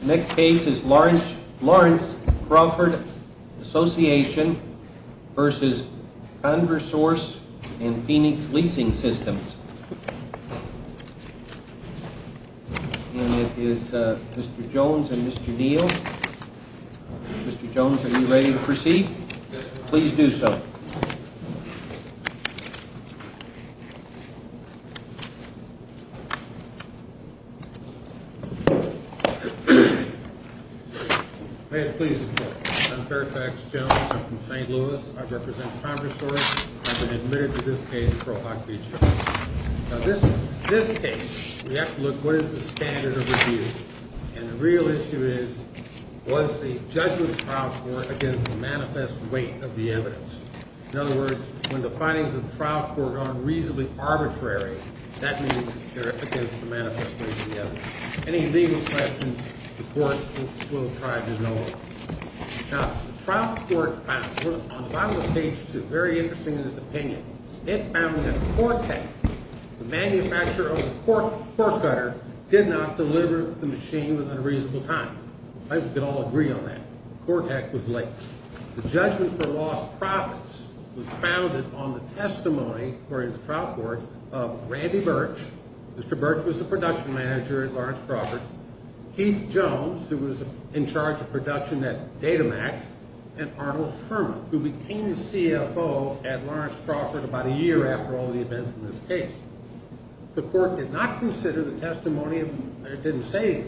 Lawrence Crawford Assoc., etc. v. Conversouce & Phoenix Leasing Systems May it please the Court. I'm Fairfax Jones. I'm from St. Louis. I represent Conversouce. I've been admitted to this case for a lot of years. Now this case, we have to look, what is the standard of review? And the real issue is, was the judgment of the trial court against the manifest weight of the evidence? In other words, when the findings of the trial court are reasonably arbitrary, that means they're against the manifest weight of the evidence. Any legal questions, the Court will try to know. Now, the trial court found, on the bottom of page 2, very interesting in its opinion, it found that Cortek, the manufacturer of the cork gutter, did not deliver the machine within a reasonable time. I think we can all agree on that. Cortek was late. The judgment for lost profits was founded on the testimony, according to the trial court, of Randy Birch. Mr. Birch was the production manager at Lawrence Crawford. Keith Jones, who was in charge of production at Datamax, and Arnold Herman, who became the CFO at Lawrence Crawford about a year after all the events in this case. The court did not consider the testimony of, or didn't say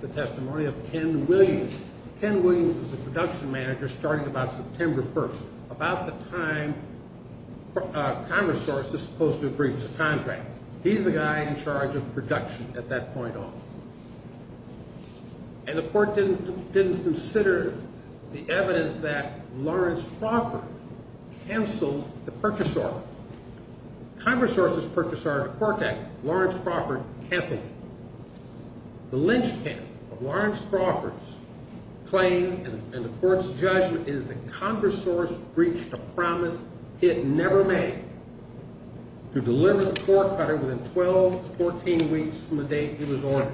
the testimony of, Ken Williams. Ken Williams was the production manager starting about September 1st, about the time Conversouce was supposed to agree to the contract. He's the guy in charge of production at that point on. And the court didn't consider the evidence that Lawrence Crawford canceled the purchase order. Conversouce's purchase order to Cortek, Lawrence Crawford canceled it. The lynchpin of Lawrence Crawford's claim in the court's judgment is that Conversouce breached a promise it never made to deliver the core cutter within 12 to 14 weeks from the date it was ordered.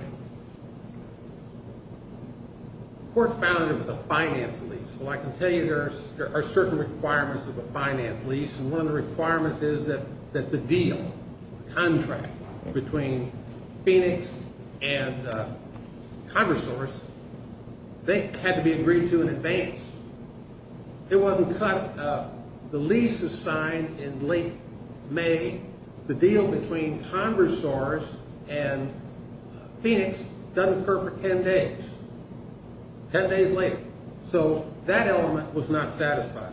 The court found it was a finance lease. Well, I can tell you there are certain requirements of a finance lease, and one of the requirements is that the deal, contract, between Phoenix and Conversouce, they had to be agreed to in advance. It wasn't cut. The lease was signed in late May. The deal between Conversouce and Phoenix doesn't occur for 10 days, 10 days later. So that element was not satisfied.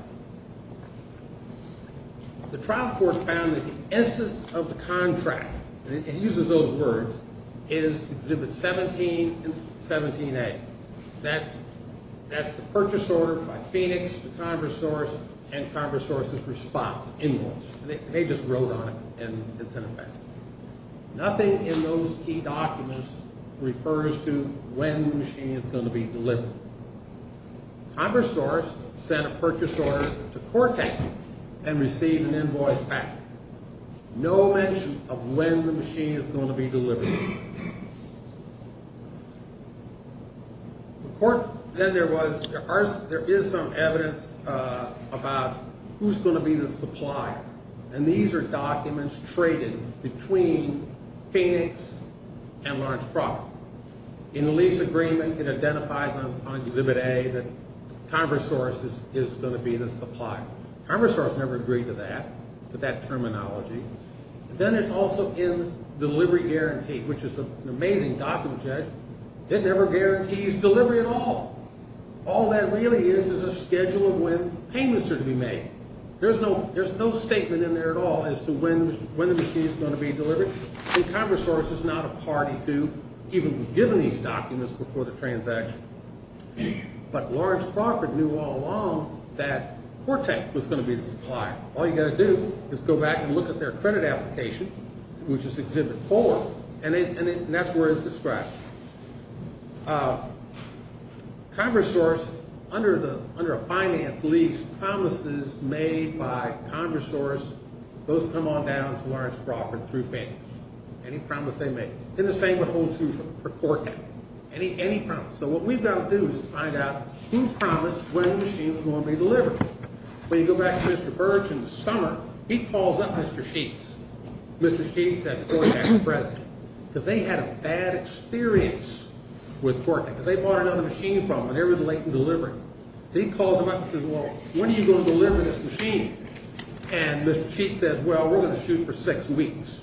The trial court found that the essence of the contract, and it uses those words, is Exhibit 17 and 17A. That's the purchase order by Phoenix to Conversouce and Conversouce's response, invoice. They just wrote on it and sent it back. Nothing in those key documents refers to when the machine is going to be delivered. Conversouce sent a purchase order to Cortek and received an invoice back. No mention of when the machine is going to be delivered. The court then there was, there is some evidence about who's going to be the supplier, and these are documents traded between Phoenix and Large Properties. In the lease agreement, it identifies on Exhibit A that Conversouce is going to be the supplier. Conversouce never agreed to that, to that terminology. Then it's also in the delivery guarantee, which is an amazing document, Judge. It never guarantees delivery at all. All that really is is a schedule of when payments are to be made. There's no statement in there at all as to when the machine is going to be delivered, and Conversouce is not a party to even giving these documents before the transaction. But Large Profit knew all along that Cortek was going to be the supplier. All you've got to do is go back and look at their credit application, which is Exhibit 4, and that's where it's described. Conversouce, under a finance lease, promises made by Conversouce, those come on down to Large Profit through Phoenix. Any promise they make. And the same would hold true for Cortek. Any promise. So what we've got to do is find out who promised when the machine was going to be delivered. When you go back to Mr. Birch in the summer, he calls up Mr. Sheets. Mr. Sheets says, Go ahead, Mr. President. Because they had a bad experience with Cortek. Because they bought another machine from him, and they were late in delivering. So he calls him up and says, Well, when are you going to deliver this machine? And Mr. Sheets says, Well, we're going to shoot for six weeks.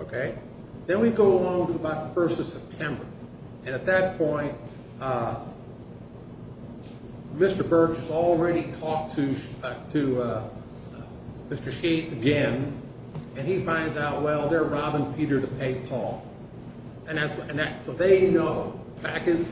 Okay? Then we go along to about the 1st of September. And at that point, Mr. Birch has already talked to Mr. Sheets again, and he finds out, Well, they're robbing Peter to pay Paul. So they know, back in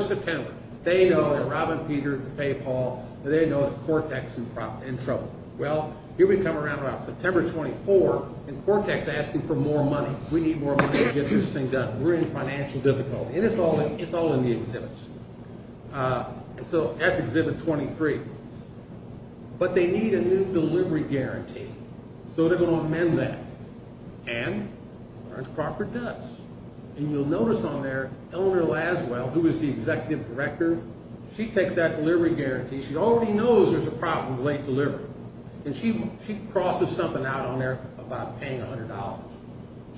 September, they know they're robbing Peter to pay Paul, and they know it's Cortek's in trouble. Well, here we come around about September 24, and Cortek's asking for more money. We need more money to get this thing done. We're in financial difficulty. And it's all in the exhibits. And so that's Exhibit 23. But they need a new delivery guarantee. So they're going to amend that. And Lawrence Crocker does. And you'll notice on there, Eleanor Laswell, who is the executive director, she takes that delivery guarantee. She already knows there's a problem with late delivery. And she crosses something out on there about paying $100.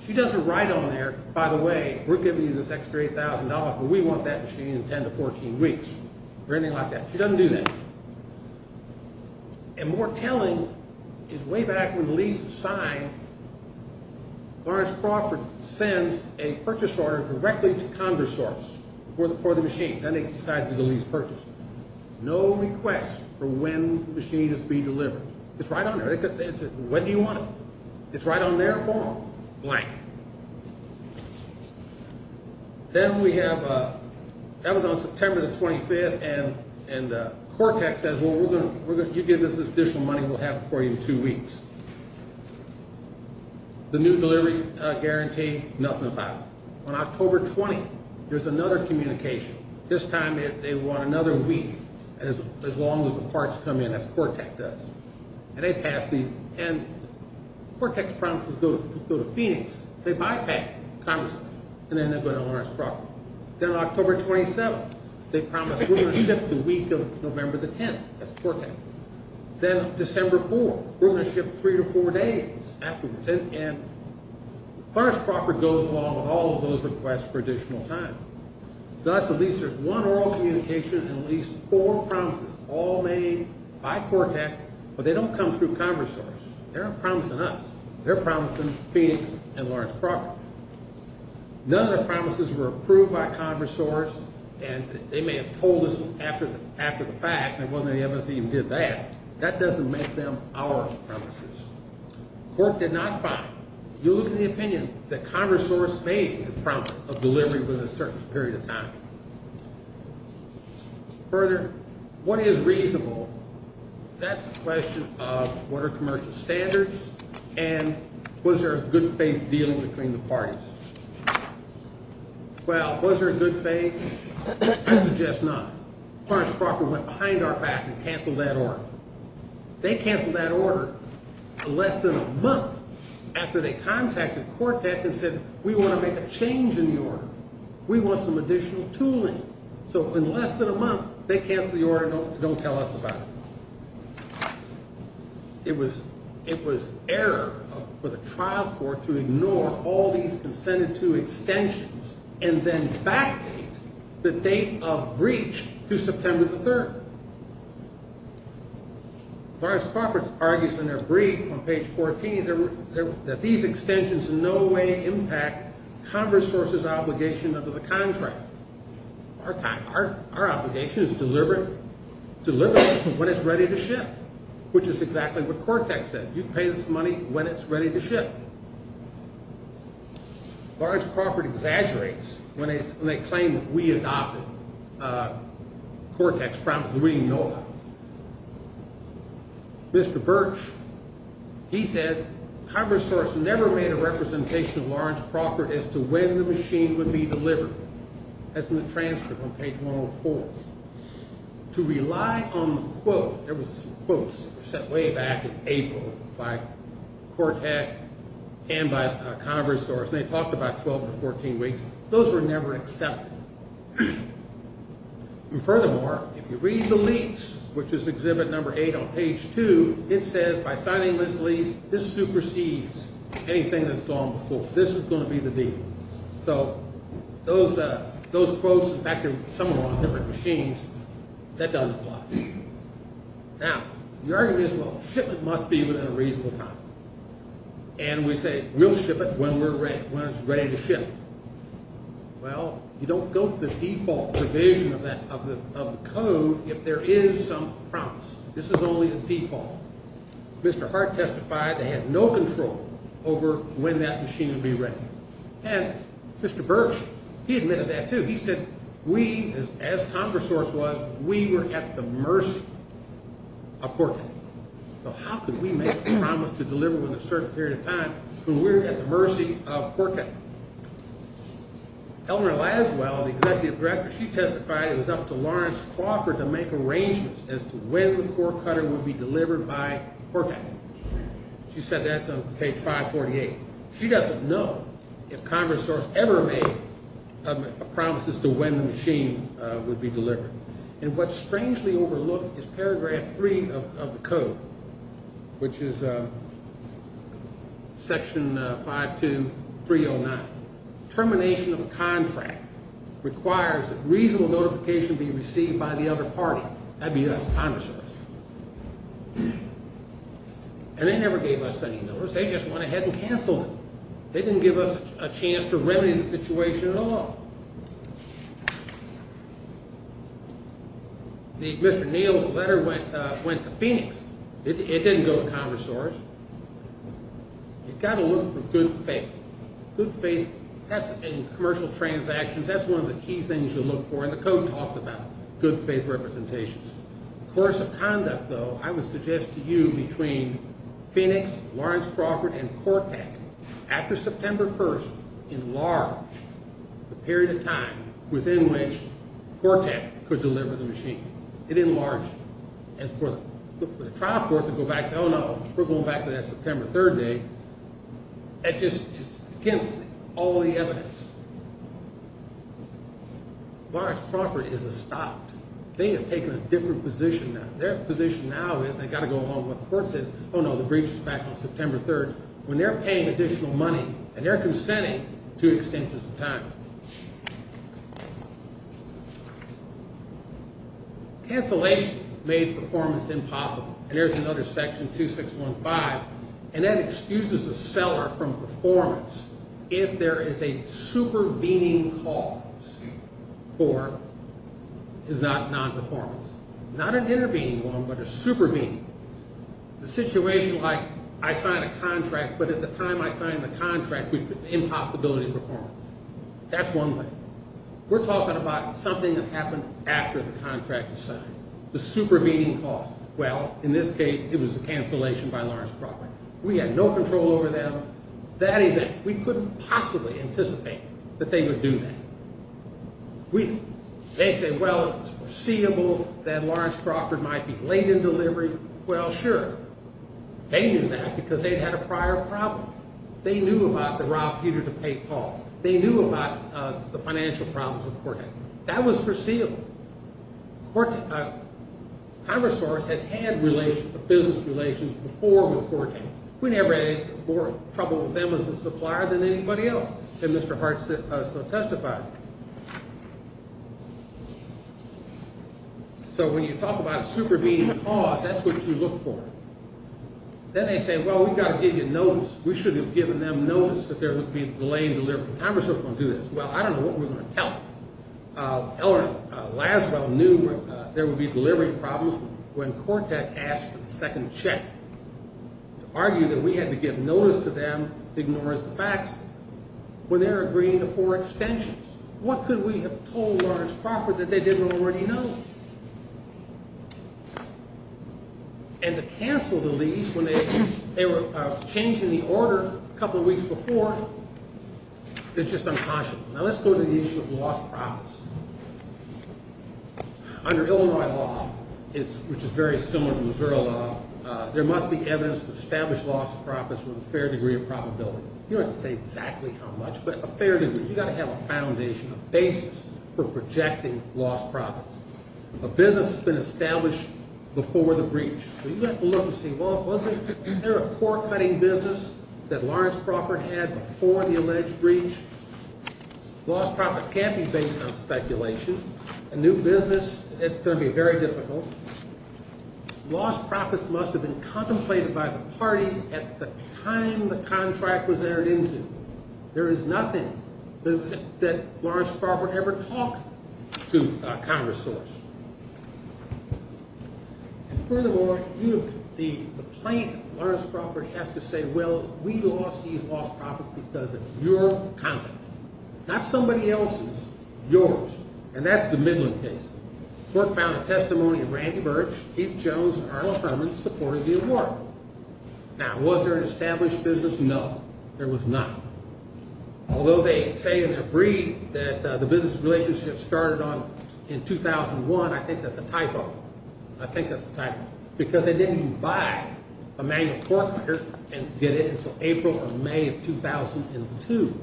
She doesn't write on there, By the way, we're giving you this extra $8,000, but we want that machine in 10 to 14 weeks, or anything like that. She doesn't do that. And more telling is way back when the lease was signed, Lawrence Crawford sends a purchase order directly to Congress source for the machine. Then they decide to do the lease purchase. No request for when the machine is to be delivered. It's right on there. When do you want it? It's right on there for them. Blank. Then we have, that was on September the 25th, and Cortex says, well, you give us this additional money, we'll have it for you in two weeks. The new delivery guarantee, nothing about it. On October 20th, there's another communication. This time they want another week, as long as the parts come in, as Cortex does. And Cortex promises to go to Phoenix. They bypass Congress, and then they'll go to Lawrence Crawford. Then October 27th, they promise we're going to ship the week of November the 10th. That's Cortex. Then December 4th, we're going to ship three to four days after the 10th. And Lawrence Crawford goes along with all of those requests for additional time. Thus, at least there's one oral communication and at least four promises, all made by Cortex, but they don't come through Congress source. They're not promising us. They're promising Phoenix and Lawrence Crawford. None of the promises were approved by Congress source, and they may have told us after the fact, and it wasn't any of us who even did that. That doesn't make them our promises. Cork did not buy it. You look at the opinion that Congress source made the promise of delivery within a certain period of time. Further, what is reasonable? That's the question of what are commercial standards, and was there a good faith deal between the parties? Well, was there a good faith? I suggest not. Lawrence Crawford went behind our back and canceled that order. They canceled that order less than a month after they contacted Cortex and said, we want to make a change in the order. We want some additional tooling. So in less than a month, they canceled the order. Don't tell us about it. It was error for the trial court to ignore all these incentive to extensions and then backdate the date of breach to September the 3rd. Lawrence Crawford argues in their brief on page 14 that these extensions in no way impact Congress source's obligation under the contract. Our obligation is delivery when it's ready to ship, which is exactly what Cortex said. You pay this money when it's ready to ship. Lawrence Crawford exaggerates when they claim that we adopted Cortex. We know. Mr. Birch, he said Congress source never made a representation of Lawrence Crawford as to when the machine would be delivered. That's in the transcript on page 104. To rely on the quote, there was quotes set way back in April by Cortex and by Congress source. They talked about 12 to 14 weeks. Those were never accepted. Furthermore, if you read the leaks, which is exhibit number eight on page two, it says by signing this lease, this supersedes anything that's gone before. This is going to be the deal. So those quotes, in fact, are somewhere on different machines. That doesn't apply. Now, the argument is, well, shipment must be within a reasonable time. And we say we'll ship it when we're ready, when it's ready to ship. Well, you don't go to the default provision of the code if there is some promise. This is only the default. Mr. Hart testified they had no control over when that machine would be ready. And Mr. Burks, he admitted that, too. He said we, as Congress source was, we were at the mercy of Cortex. So how could we make a promise to deliver within a certain period of time when we're at the mercy of Cortex? Eleanor Laswell, the executive director, she testified it was up to Lawrence Crawford to make arrangements as to when the core cutter would be delivered by Cortex. She said that's on page 548. She doesn't know if Congress source ever made promises to when the machine would be delivered. And what's strangely overlooked is paragraph 3 of the code, which is section 52309. Termination of a contract requires that reasonable notification be received by the other party. That would be us, Congress source. And they never gave us any notice. They just went ahead and canceled it. They didn't give us a chance to remedy the situation at all. Mr. Neal's letter went to Phoenix. It didn't go to Congress source. You've got to look for good faith. Good faith, that's in commercial transactions. That's one of the key things you look for in the code talks about good faith representations. The course of conduct, though, I would suggest to you between Phoenix, Lawrence Crawford, and Cortex, after September 1st, enlarge the period of time within which Cortex could deliver the machine. It enlarged. And for the trial court to go back and say, oh, no, we're going back to that September 3rd date, that just is against all the evidence. Lawrence Crawford is a stopped. They have taken a different position now. Their position now is they've got to go along with what the court says. Oh, no, the breach is back on September 3rd. When they're paying additional money and they're consenting to extensions of time. Cancellation made performance impossible. And there's another section, 2615. And that excuses the seller from performance if there is a supervening cause for, is not nonperformance. Not an intervening one, but a supervening. The situation like I signed a contract, but at the time I signed the contract, impossibility of performance. That's one way. We're talking about something that happened after the contract was signed. The supervening cause. Well, in this case, it was a cancellation by Lawrence Crawford. We had no control over them. That event, we couldn't possibly anticipate that they would do that. They said, well, it's foreseeable that Lawrence Crawford might be late in delivery. Well, sure. They knew that because they'd had a prior problem. They knew about the Rob Peter to pay Paul. They knew about the financial problems of court. That was foreseeable. Congress had had business relations before with Corte. We never had more trouble with them as a supplier than anybody else that Mr. Hart so testified. So when you talk about a supervening cause, that's what you look for. Then they say, well, we've got to give you notice. We should have given them notice that there would be a delay in delivery. Congress was going to do this. Well, I don't know what we're going to tell them. Elrond Laswell knew there would be delivery problems when Corte asked for the second check. Argued that we had to give notice to them, ignore as the facts, when they're agreeing to four extensions. What could we have told Lawrence Crawford that they didn't already know? And to cancel the lease when they were changing the order a couple of weeks before, that's just unconscionable. Now let's go to the issue of lost profits. Under Illinois law, which is very similar to Missouri law, there must be evidence to establish lost profits with a fair degree of probability. You don't have to say exactly how much, but a fair degree. You've got to have a foundation, a basis for projecting lost profits. A business has been established before the breach. Wasn't there a core cutting business that Lawrence Crawford had before the alleged breach? Lost profits can't be based on speculation. A new business, it's going to be very difficult. Lost profits must have been contemplated by the parties at the time the contract was entered into. There is nothing that Lawrence Crawford ever talked to Congress for. And furthermore, the plaintiff, Lawrence Crawford, has to say, well, we lost these lost profits because of your conduct. Not somebody else's. Yours. And that's the Midland case. Court found a testimony of Randy Burch, Keith Jones, and Arnold Herman supporting the award. Now, was there an established business? No, there was not. Although they say in their brief that the business relationship started in 2001, I think that's a typo. I think that's a typo. Because they didn't even buy a manual cork cutter and get it until April or May of 2002.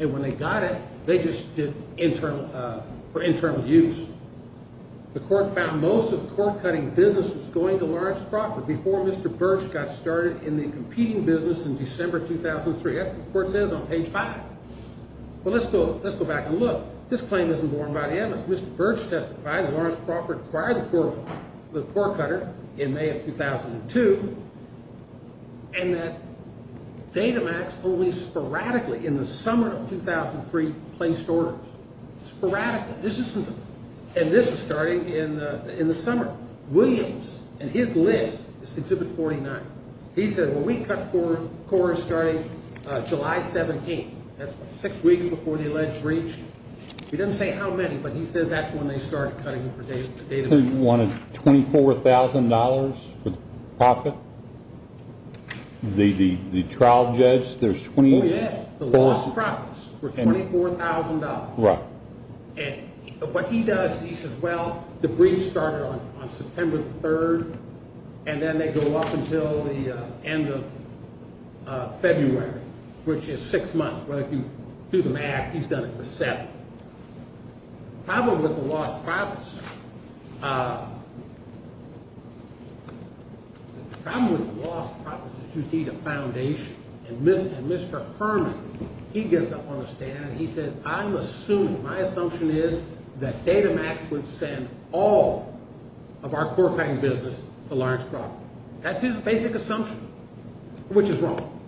And when they got it, they just did it for internal use. The court found most of the core cutting business was going to Lawrence Crawford before Mr. Burch got started in the competing business in December 2003. That's what the court says on page five. But let's go back and look. This claim isn't borne by the evidence. Mr. Burch testified that Lawrence Crawford acquired the cork cutter in May of 2002. And that Datamax only sporadically in the summer of 2003 placed orders. Sporadically. And this was starting in the summer. Williams and his list is Exhibit 49. He said, well, we cut corks starting July 17th. That's six weeks before the alleged breach. He doesn't say how many, but he says that's when they started cutting for Datamax. You wanted $24,000 for the profit? The trial judge, there's $24,000. Oh, yeah. The lost profits were $24,000. Right. What he does, he says, well, the breach started on September 3rd, and then they go up until the end of February, which is six months. Well, if you do the math, he's done it for seven. The problem with the lost profits is you need a foundation. And Mr. Herman, he gets up on the stand, and he says, I'm assuming, my assumption is that Datamax would send all of our cork cutting business to Lawrence Crawford. That's his basic assumption, which is wrong.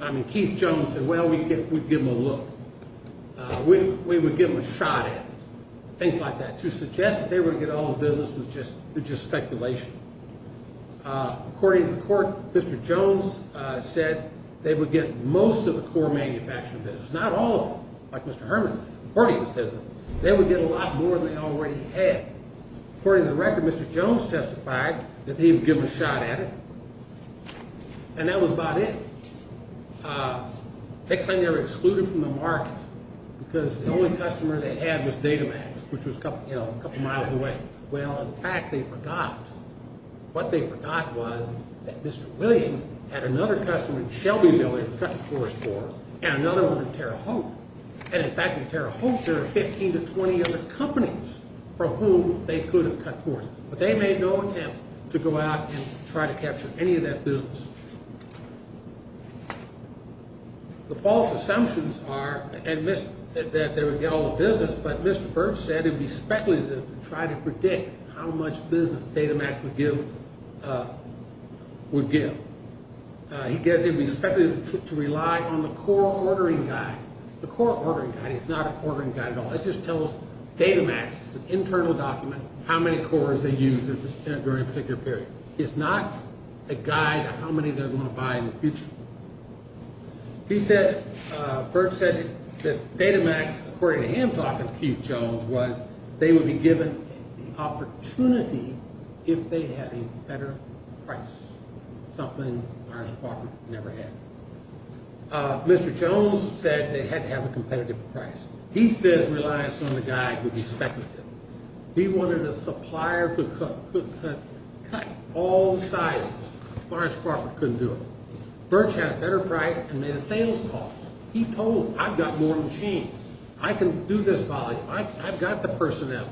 I mean, Keith Jones said, well, we'd give them a look. We would give them a shot at it. Things like that. To suggest that they would get all the business was just speculation. According to the court, Mr. Jones said they would get most of the core manufacturing business, not all of them, like Mr. Herman says. According to him, they would get a lot more than they already had. According to the record, Mr. Jones testified that he would give them a shot at it. And that was about it. They claim they were excluded from the market because the only customer they had was Datamax, which was a couple miles away. Well, in fact, they forgot. What they forgot was that Mr. Williams had another customer, Shelby Milley, to cut the forest for, and another one was Tara Hope. And, in fact, with Tara Hope, there were 15 to 20 other companies from whom they could have cut forest. But they made no attempt to go out and try to capture any of that business. The false assumptions are that they would get all the business, but Mr. Birch said it would be speculative to try to predict how much business Datamax would give. He said it would be speculative to rely on the core ordering guide. The core ordering guide is not an ordering guide at all. It just tells Datamax, it's an internal document, how many cores they use during a particular period. It's not a guide of how many they're going to buy in the future. He said, Birch said, that Datamax, according to him talking to Keith Jones, was they would be given the opportunity if they had a better price, something our department never had. Mr. Jones said they had to have a competitive price. He said reliance on the guide would be speculative. He wanted a supplier who could cut all the silos. Lawrence Crawford couldn't do it. Birch had a better price and made a sales call. He told them, I've got more machines. I can do this volume. I've got the personnel.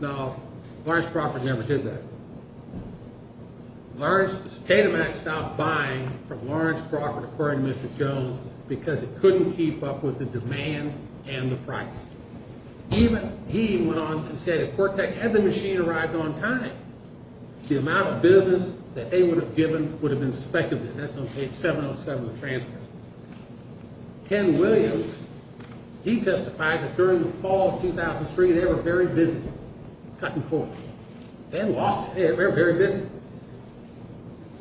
No, Lawrence Crawford never did that. Datamax stopped buying from Lawrence Crawford, according to Mr. Jones, because it couldn't keep up with the demand and the price. Even he went on and said if Quirk Tech had the machine arrived on time, the amount of business that they would have given would have been speculative. That's on page 707 of the transcript. Ken Williams, he testified that during the fall of 2003, they were very busy cutting cores. Ken lost it. They were very busy.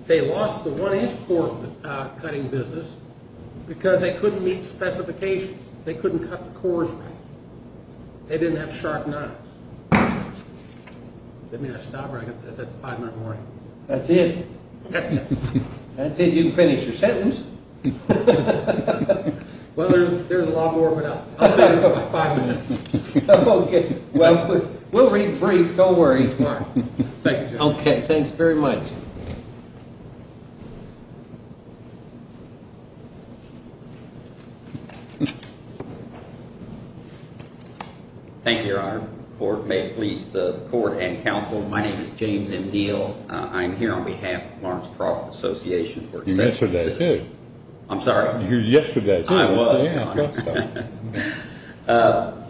They lost the one-inch core cutting business because they couldn't meet specifications. They couldn't cut the cores right. They didn't have sharp knives. Does that mean I stop or I've got five more minutes? That's it. That's it. That's it. You can finish your sentence. Well, there's a lot more, but I'll stop for five minutes. Okay. Well, we'll read brief. Don't worry. Okay. Thanks very much. Thank you, Your Honor. May it please the court and counsel, my name is James M. Neal. I'm here on behalf of Lawrence Crawford Association for Accessible Citizens. You were yesterday, too. I'm sorry? You were yesterday, too. I was.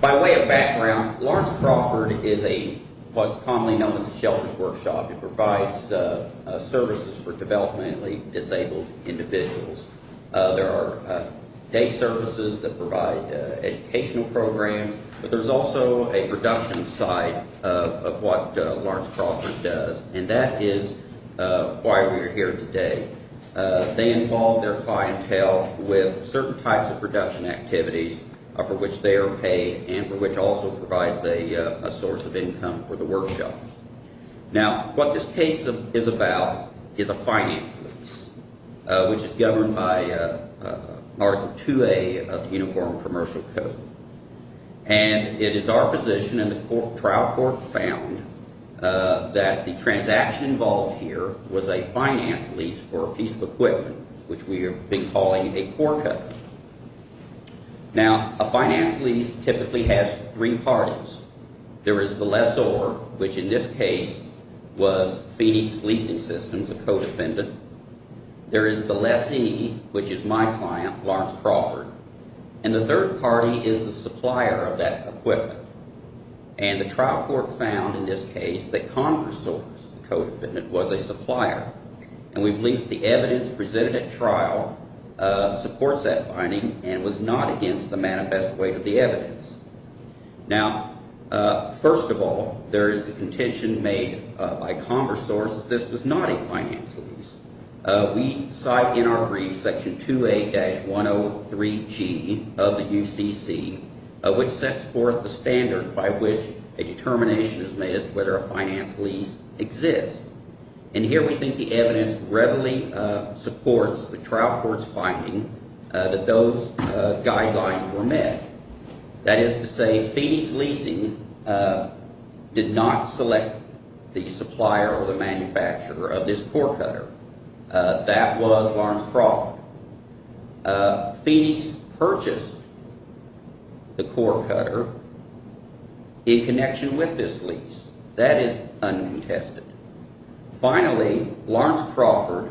By way of background, Lawrence Crawford is a what's commonly known as a sheltered workshop. It provides services for developmentally disabled individuals. There are day services that provide educational programs, but there's also a production side of what Lawrence Crawford does, and that is why we are here today. They involve their clientele with certain types of production activities for which they are paid and for which also provides a source of income for the workshop. Now, what this case is about is a finance lease, which is governed by Article 2A of the Uniform Commercial Code, and it is our position and the trial court found that the transaction involved here was a finance lease for a piece of equipment, which we have been calling a poor cut. Now, a finance lease typically has three parties. There is the lessor, which in this case was Phoenix Leasing Systems, a co-defendant. There is the lessee, which is my client, Lawrence Crawford, and the third party is the supplier of that equipment, and the trial court found in this case that Converse Source, the co-defendant, was a supplier, and we believe the evidence presented at trial supports that finding and was not against the manifest weight of the evidence. Now, first of all, there is a contention made by Converse Source that this was not a finance lease. We cite in our brief Section 2A-103G of the UCC, which sets forth the standard by which a determination is made as to whether a finance lease exists, and here we think the evidence readily supports the trial court's finding that those guidelines were met. That is to say, Phoenix Leasing did not select the supplier or the manufacturer of this poor cutter. That was Lawrence Crawford. Phoenix purchased the poor cutter in connection with this lease. That is uncontested. Finally, Lawrence Crawford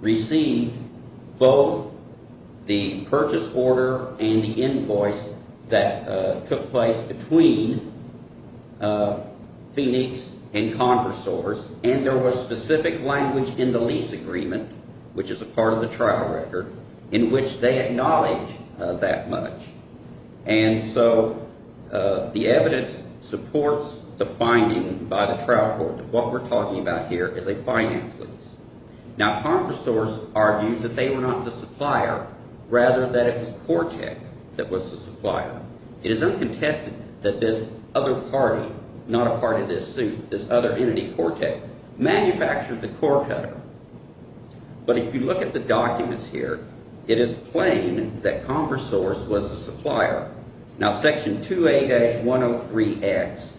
received both the purchase order and the invoice that took place between Phoenix and Converse Source, and there was specific language in the lease agreement, which is a part of the trial record, in which they acknowledge that much. And so the evidence supports the finding by the trial court that what we're talking about here is a finance lease. Now, Converse Source argues that they were not the supplier, rather that it was Cortek that was the supplier. It is uncontested that this other party, not a part of this suit, this other entity, Cortek, manufactured the poor cutter. But if you look at the documents here, it is plain that Converse Source was the supplier. Now, Section 2A-103X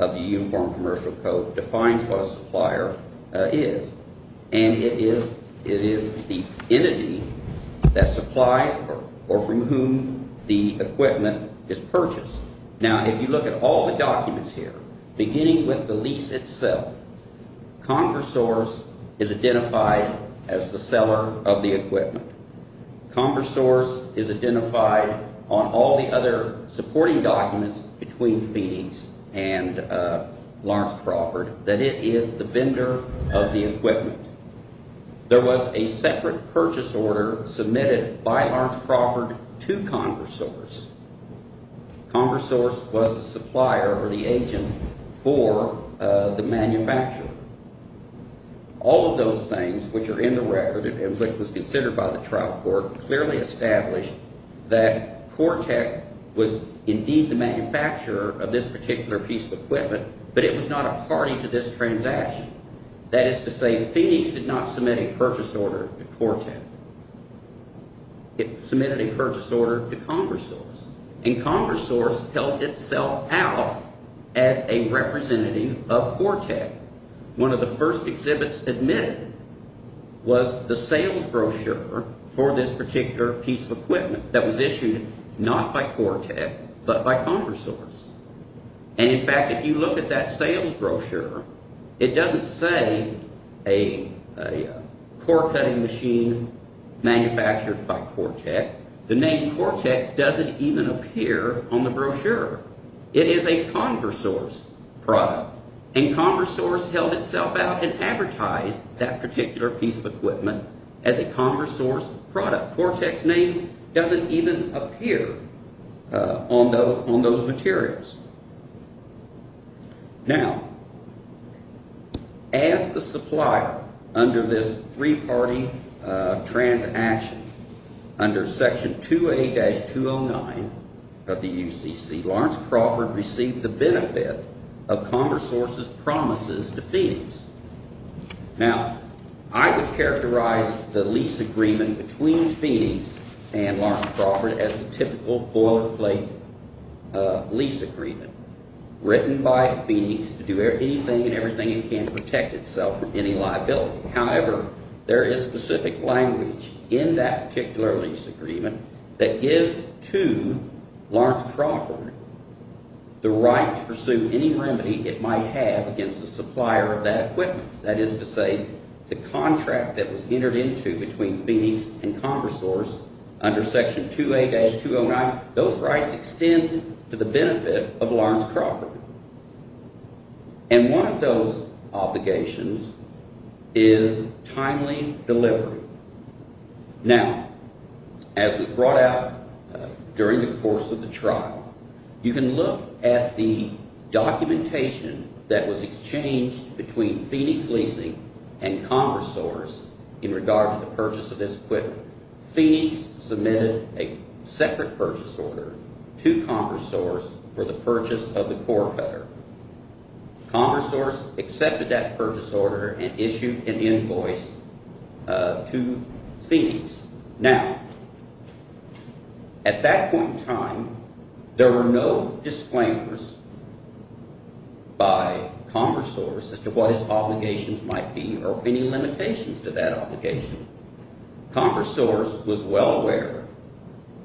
of the Uniform Commercial Code defines what a supplier is, and it is the entity that supplies or from whom the equipment is purchased. Now, if you look at all the documents here, beginning with the lease itself, Converse Source is identified as the seller of the equipment. Converse Source is identified on all the other supporting documents between Phoenix and Lawrence Crawford that it is the vendor of the equipment. There was a separate purchase order submitted by Lawrence Crawford to Converse Source. Converse Source was the supplier or the agent for the manufacturer. All of those things, which are in the record and which was considered by the trial court, clearly established that Cortek was indeed the manufacturer of this particular piece of equipment, but it was not a party to this transaction. That is to say, Phoenix did not submit a purchase order to Cortek. It submitted a purchase order to Converse Source, and Converse Source held itself out as a representative of Cortek. One of the first exhibits admitted was the sales brochure for this particular piece of equipment that was issued not by Cortek, but by Converse Source. In fact, if you look at that sales brochure, it doesn't say a core cutting machine manufactured by Cortek. The name Cortek doesn't even appear on the brochure. It is a Converse Source product, and Converse Source held itself out and advertised that particular piece of equipment as a Converse Source product. Cortek's name doesn't even appear on those materials. Now, as the supplier under this three-party transaction under Section 2A-209 of the UCC, Lawrence Crawford received the benefit of Converse Source's promises to Phoenix. Now, I would characterize the lease agreement between Phoenix and Lawrence Crawford as a typical boilerplate lease agreement written by Phoenix to do anything and everything it can to protect itself from any liability. However, there is specific language in that particular lease agreement that gives to Lawrence Crawford the right to pursue any remedy it might have against the supplier of that equipment. That is to say, the contract that was entered into between Phoenix and Converse Source under Section 2A-209, those rights extend to the benefit of Lawrence Crawford. And one of those obligations is timely delivery. Now, as was brought out during the course of the trial, you can look at the documentation that was exchanged between Phoenix Leasing and Converse Source in regard to the purchase of this equipment. Phoenix submitted a separate purchase order to Converse Source for the purchase of the core cutter. Converse Source accepted that purchase order and issued an invoice to Phoenix. Now, at that point in time, there were no disclaimers by Converse Source as to what its obligations might be or any limitations to that obligation. Converse Source was well aware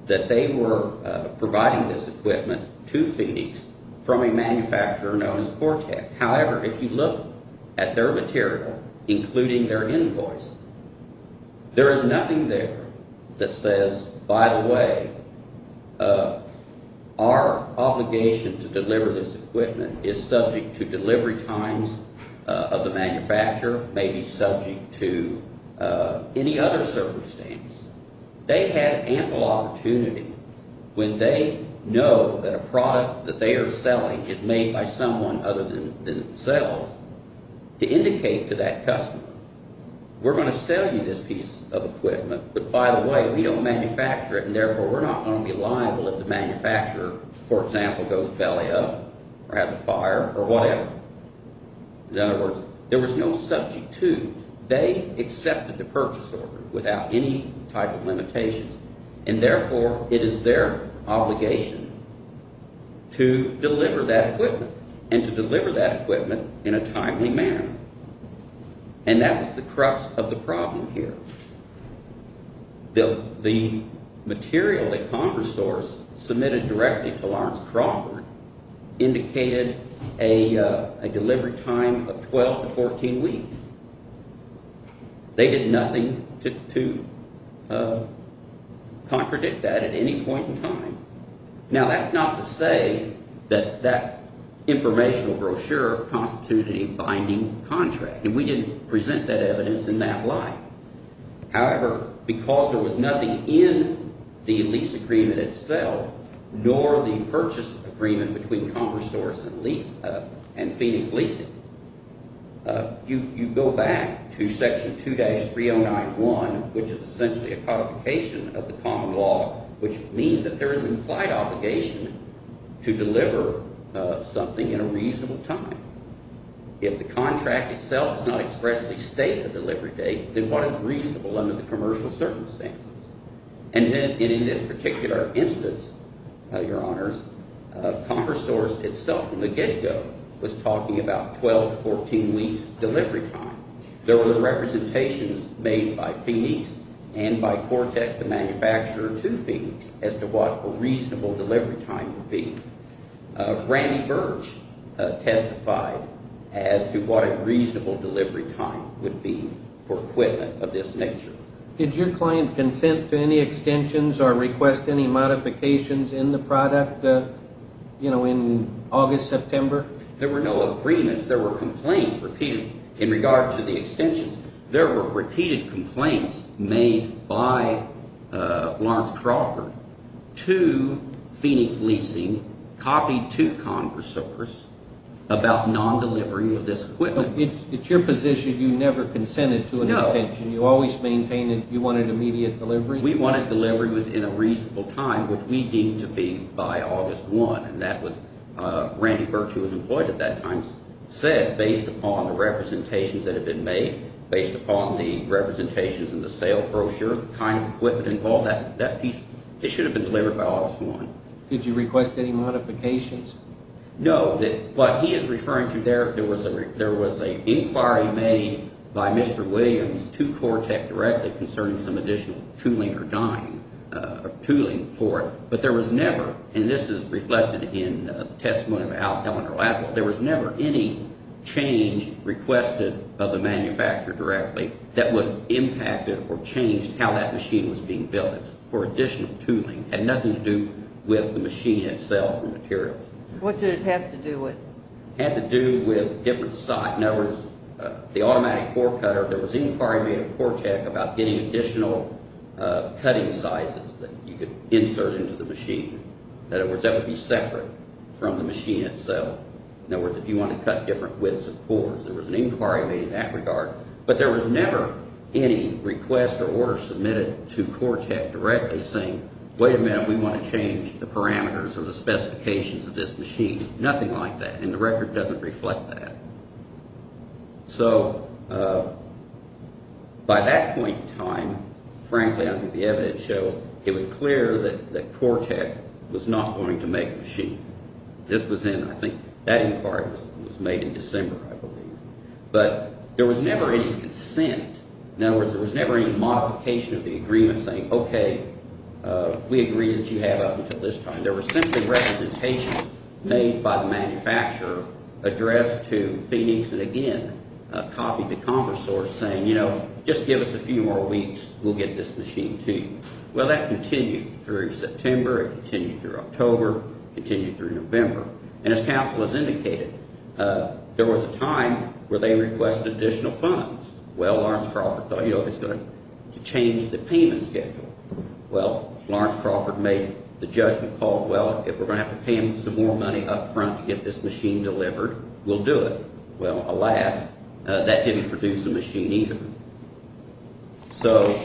that they were providing this equipment to Phoenix from a manufacturer known as Cortec. However, if you look at their material, including their invoice, there is nothing there that says, by the way, our obligation to deliver this equipment is subject to delivery times of the manufacturer, maybe subject to any other circumstance. They had ample opportunity when they know that a product that they are selling is made by someone other than themselves to indicate to that customer, we're going to sell you this piece of equipment, but by the way, we don't manufacture it, and therefore we're not going to be liable if the manufacturer, for example, goes belly up or has a fire or whatever. In other words, there was no subject to. They accepted the purchase order without any type of limitations, and therefore it is their obligation to deliver that equipment and to deliver that equipment in a timely manner. And that was the crux of the problem here. The material that Converse Source submitted directly to Lawrence Crawford indicated a delivery time of 12 to 14 weeks. They did nothing to contradict that at any point in time. Now, that's not to say that that informational brochure constituted a binding contract, and we didn't present that evidence in that light. However, because there was nothing in the lease agreement itself nor the purchase agreement between Converse Source and Phoenix Leasing, you go back to Section 2-3091, which is essentially a codification of the common law, which means that there is an implied obligation to deliver something in a reasonable time. If the contract itself does not expressly state a delivery date, then what is reasonable under the commercial circumstances? And in this particular instance, your honors, Converse Source itself from the get-go was talking about 12 to 14 weeks delivery time. There were representations made by Phoenix and by Cortec, the manufacturer, to Phoenix as to what a reasonable delivery time would be. Randy Birch testified as to what a reasonable delivery time would be for equipment of this nature. Did your client consent to any extensions or request any modifications in the product, you know, in August, September? There were no agreements. There were complaints repeated in regard to the extensions. There were repeated complaints made by Lawrence Crawford to Phoenix Leasing, copied to Converse Source, about non-delivering of this equipment. It's your position you never consented to an extension. No. You always maintained that you wanted immediate delivery? We wanted delivery within a reasonable time, which we deemed to be by August 1. And that was – Randy Birch, who was employed at that time, said based upon the representations that had been made, based upon the representations in the sale brochure, the kind of equipment involved, that piece – it should have been delivered by August 1. Did you request any modifications? No. What he is referring to there, there was an inquiry made by Mr. Williams to Corotek directly concerning some additional tooling for it. But there was never – and this is reflected in the testimony of Al Kellner last week – there was never any change requested of the manufacturer directly that would impact it or change how that machine was being built for additional tooling. It had nothing to do with the machine itself or materials. What did it have to do with? It had to do with different – in other words, the automatic core cutter. There was an inquiry made at Corotek about getting additional cutting sizes that you could insert into the machine. In other words, that would be separate from the machine itself. In other words, if you want to cut different widths of cores, there was an inquiry made in that regard. But there was never any request or order submitted to Corotek directly saying, wait a minute, we want to change the parameters or the specifications of this machine. Nothing like that. And the record doesn't reflect that. So by that point in time, frankly, I think the evidence shows it was clear that Corotek was not going to make a machine. This was in – I think that inquiry was made in December, I believe. But there was never any consent. In other words, there was never any modification of the agreement saying, okay, we agree that you have up until this time. There were simply representations made by the manufacturer addressed to Phoenix and again copied to Commerce Source saying, you know, just give us a few more weeks, we'll get this machine to you. Well, that continued through September. It continued through October. It continued through November. And as counsel has indicated, there was a time where they requested additional funds. Well, Lawrence Crawford thought, you know, it's going to change the payment schedule. Well, Lawrence Crawford made the judgment call, well, if we're going to have to pay him some more money up front to get this machine delivered, we'll do it. Well, alas, that didn't produce a machine either. So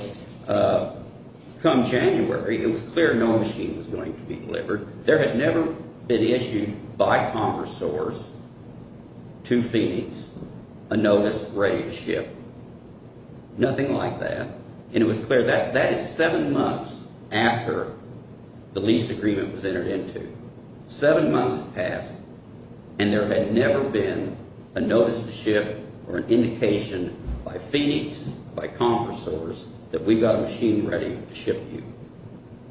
come January, it was clear no machine was going to be delivered. There had never been issued by Commerce Source to Phoenix a notice ready to ship. Nothing like that. And it was clear that is seven months after the lease agreement was entered into. Seven months had passed, and there had never been a notice to ship or an indication by Phoenix, by Commerce Source, that we got a machine ready to ship you.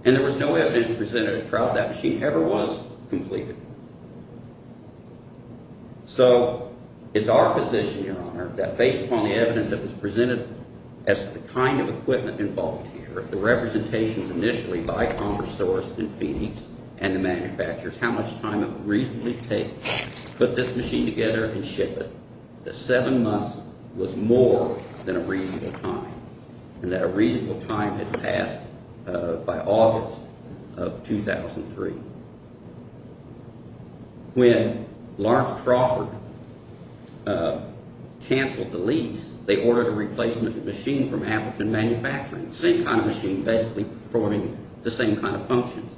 And there was no evidence presented that that machine ever was completed. So it's our position, Your Honor, that based upon the evidence that was presented as to the kind of equipment involved here, the representations initially by Commerce Source and Phoenix and the manufacturers, how much time it would reasonably take to put this machine together and ship it, that seven months was more than a reasonable time and that a reasonable time had passed by August of 2003. When Lawrence Crawford canceled the lease, they ordered a replacement machine from Appleton Manufacturing. Same kind of machine, basically performing the same kind of functions.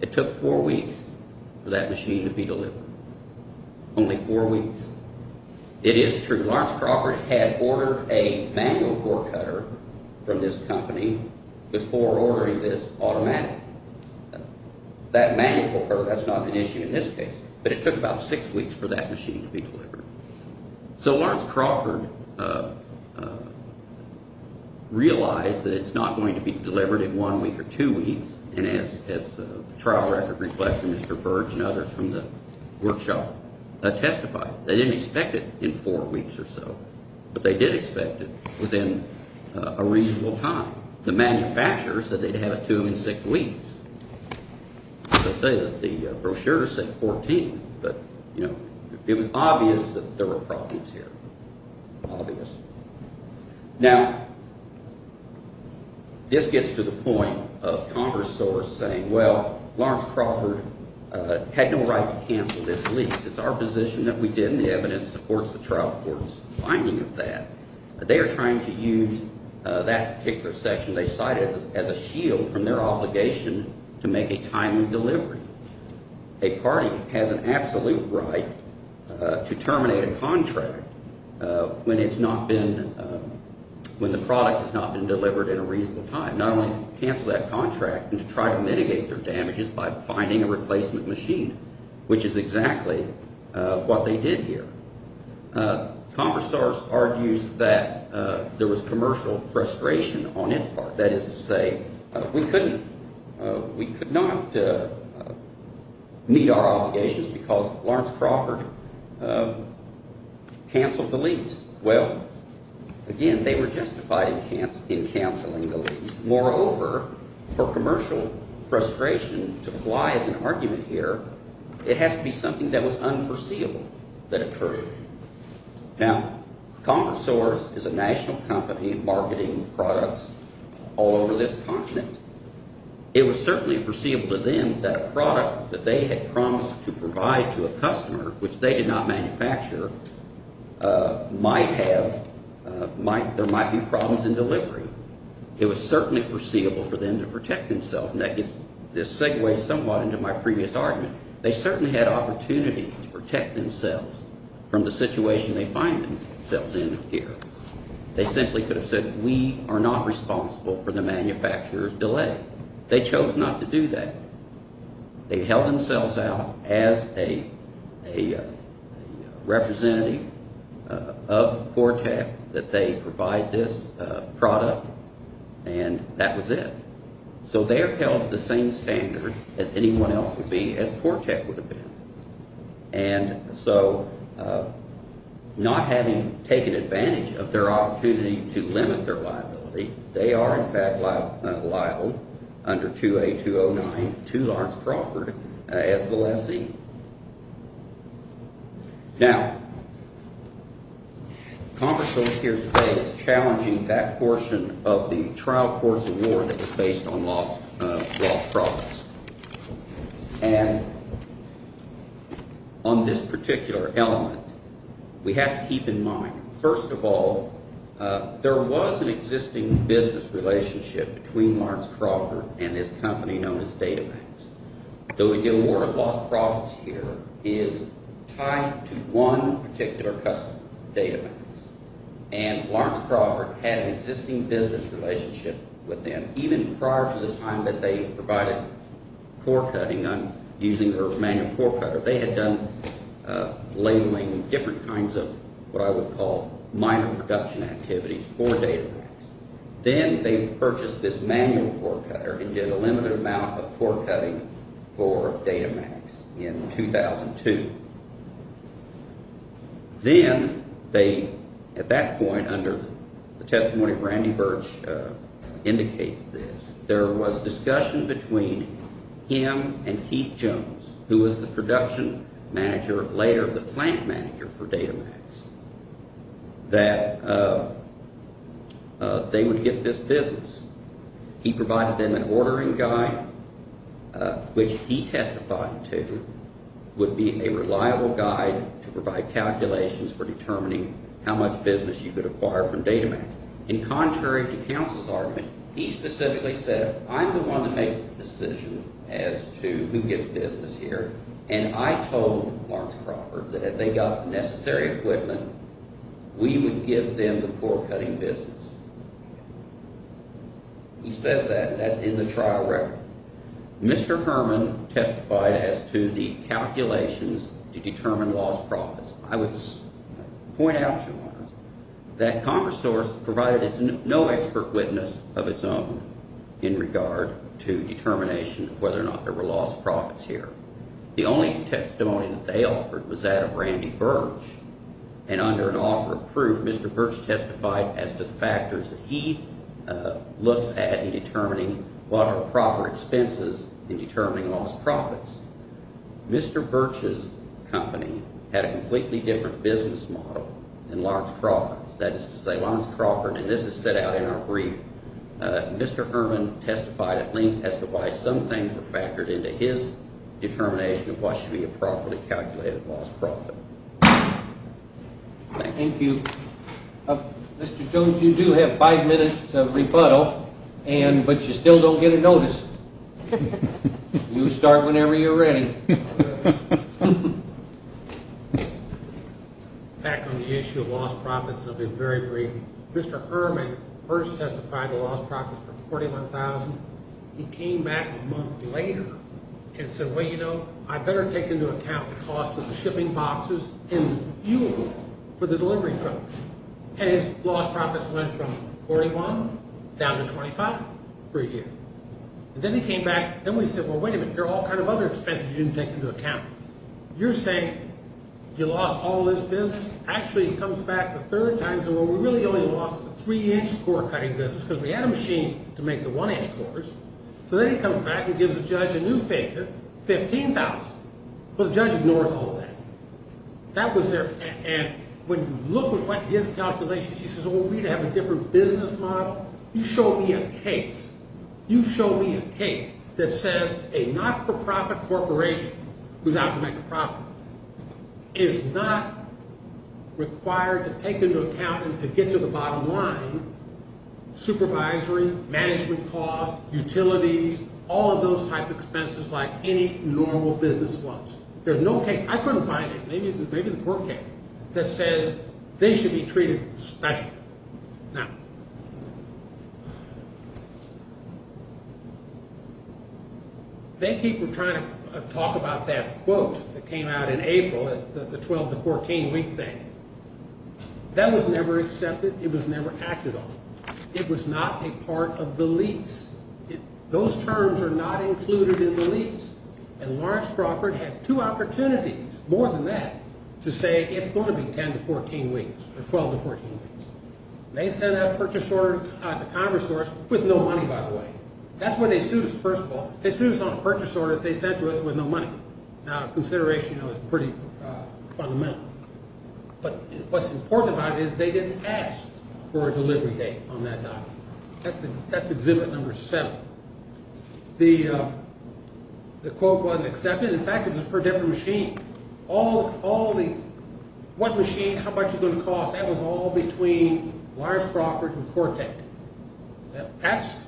It took four weeks for that machine to be delivered. Only four weeks. It is true. Lawrence Crawford had ordered a manual core cutter from this company before ordering this automatic. That manual core cutter, that's not an issue in this case, but it took about six weeks for that machine to be delivered. So Lawrence Crawford realized that it's not going to be delivered in one week or two weeks, and as the trial record reflects, Mr. Burge and others from the workshop testified, they didn't expect it in four weeks or so, but they did expect it within a reasonable time. The manufacturers said they'd have it to them in six weeks. They say that the brochures say 14, but it was obvious that there were problems here. Obvious. Now, this gets to the point of Congress saying, well, Lawrence Crawford had no right to cancel this lease. It's our position that we did, and the evidence supports the trial court's finding of that. They are trying to use that particular section they cited as a shield from their obligation to make a timely delivery. A party has an absolute right to terminate a contract when it's not been, when the product has not been delivered in a reasonable time, not only to cancel that contract, but to try to mitigate their damages by finding a replacement machine, which is exactly what they did here. Congress argues that there was commercial frustration on its part. That is to say, we couldn't, we could not meet our obligations because Lawrence Crawford canceled the lease. Well, again, they were justified in canceling the lease. Moreover, for commercial frustration to fly as an argument here, it has to be something that was unforeseeable that occurred. Now, CommerSource is a national company marketing products all over this continent. It was certainly foreseeable to them that a product that they had promised to provide to a customer, which they did not manufacture, might have, there might be problems in delivery. It was certainly foreseeable for them to protect themselves, and that gets this segue somewhat into my previous argument. They certainly had opportunity to protect themselves from the situation they find themselves in here. They simply could have said, we are not responsible for the manufacturer's delay. They chose not to do that. They held themselves out as a representative of Cortec that they provide this product, and that was it. So they are held to the same standard as anyone else would be, as Cortec would have been. And so not having taken advantage of their opportunity to limit their liability, they are in fact liable under 2A209 to Lawrence Crawford as the lessee. Now, CommerSource here today is challenging that portion of the trial courts of war that is based on lost products. And on this particular element, we have to keep in mind, first of all, there was an existing business relationship between Lawrence Crawford and this company known as Database. Though we deal more with lost products here, it is tied to one particular customer, Database. And Lawrence Crawford had an existing business relationship with them even prior to the time that they provided core cutting using their manual core cutter. They had done labeling different kinds of what I would call minor production activities for Database. Then they purchased this manual core cutter and did a limited amount of core cutting for Datamax in 2002. Then they, at that point, under the testimony of Randy Birch, indicates this. There was discussion between him and Heath Jones, who was the production manager, later the plant manager for Datamax, that they would get this business. He provided them an ordering guide, which he testified to would be a reliable guide to provide calculations for determining how much business you could acquire from Datamax. And contrary to counsel's argument, he specifically said, I'm the one that makes the decision as to who gets business here. And I told Lawrence Crawford that if they got the necessary equipment, we would give them the core cutting business. He says that, and that's in the trial record. Mr. Herman testified as to the calculations to determine lost profits. I would point out to you, Lawrence, that Congress source provided no expert witness of its own in regard to determination of whether or not there were lost profits here. The only testimony that they offered was that of Randy Birch. And under an offer of proof, Mr. Birch testified as to the factors that he looks at in determining what are proper expenses in determining lost profits. Mr. Birch's company had a completely different business model than Lawrence Crawford's. That is to say, Lawrence Crawford, and this is set out in our brief, Mr. Herman testified at length as to why some things were factored into his determination of what should be a properly calculated lost profit. Thank you. Mr. Jones, you do have five minutes of rebuttal, but you still don't get a notice. You start whenever you're ready. Back on the issue of lost profits, I'll be very brief. Mr. Herman first testified the lost profits were $41,000. He came back a month later and said, well, you know, I better take into account the cost of the shipping boxes and fuel for the delivery truck. And his lost profits went from $41,000 to $25,000 per year. And then he came back. Then we said, well, wait a minute. There are all kinds of other expenses you didn't take into account. You're saying you lost all this business. Actually, he comes back a third time and says, well, we really only lost the three-inch core cutting business because we had a machine to make the one-inch cores. So then he comes back and gives the judge a new figure, $15,000. But the judge ignores all that. And when you look at his calculations, he says, well, we'd have a different business model. You show me a case. You show me a case that says a not-for-profit corporation who's out to make a profit is not required to take into account and to get to the bottom line supervisory, management costs, utilities, all of those type of expenses like any normal business was. There's no case. I couldn't find it. Maybe the court can. That says they should be treated special. Now, they keep trying to talk about that quote that came out in April, the 12 to 14 week thing. That was never accepted. It was never acted on. It was not a part of the lease. Those terms are not included in the lease. And Lawrence Crawford had two opportunities, more than that, to say it's going to be 10 to 14 weeks or 12 to 14 weeks. And they sent out a purchase order to Congress for us with no money, by the way. That's where they sued us, first of all. They sued us on a purchase order they sent to us with no money. Now, consideration, you know, is pretty fundamental. But what's important about it is they didn't ask for a delivery date on that document. That's exhibit number seven. The quote wasn't accepted. In fact, it was for a different machine. All the one machine, how much is it going to cost, that was all between Lawrence Crawford and Cortec. That's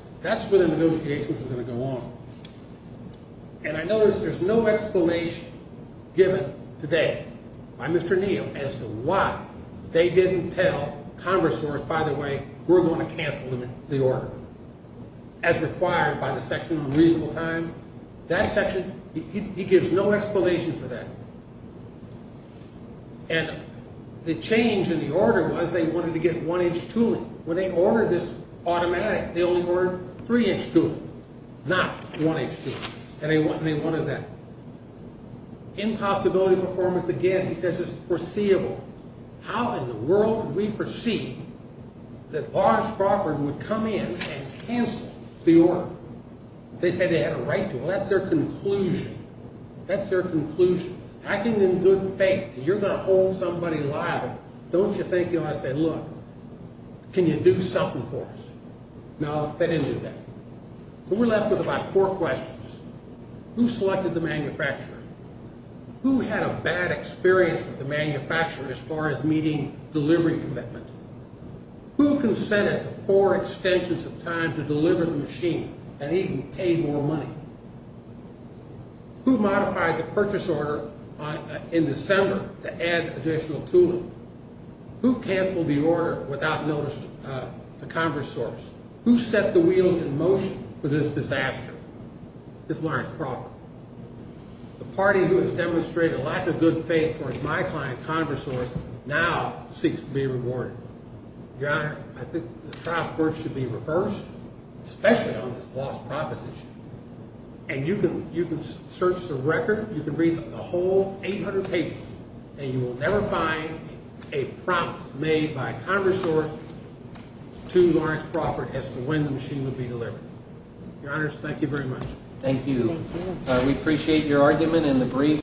where the negotiations were going to go on. And I notice there's no explanation given today by Mr. Neal as to why they didn't tell Congress, by the way, we're going to cancel the order as required by the section on reasonable time. That section, he gives no explanation for that. And the change in the order was they wanted to get one-inch tooling. When they ordered this automatic, they only ordered three-inch tooling, not one-inch tooling. And they wanted that. Impossibility performance, again, he says it's foreseeable. How in the world would we foresee that Lawrence Crawford would come in and cancel the order? They said they had a right to. Well, that's their conclusion. That's their conclusion. Acting in good faith, you're going to hold somebody liable. Don't you think, you know, I say, look, can you do something for us? No, they didn't do that. But we're left with about four questions. Who selected the manufacturer? Who had a bad experience with the manufacturer as far as meeting delivery commitment? Who consented for extensions of time to deliver the machine and even paid more money? Who modified the purchase order in December to add additional tooling? Who canceled the order without notice to Congress? Who set the wheels in motion for this disaster? It's Lawrence Crawford. The party who has demonstrated a lack of good faith towards my client, CongressSource, now seeks to be rewarded. Your Honor, I think the trial court should be reversed, especially on this lost proposition. And you can search the record, you can read a whole 800 pages, and you will never find a promise made by CongressSource to Lawrence Crawford as to when the machine would be delivered. Your Honors, thank you very much. Thank you. We appreciate your argument in the brief.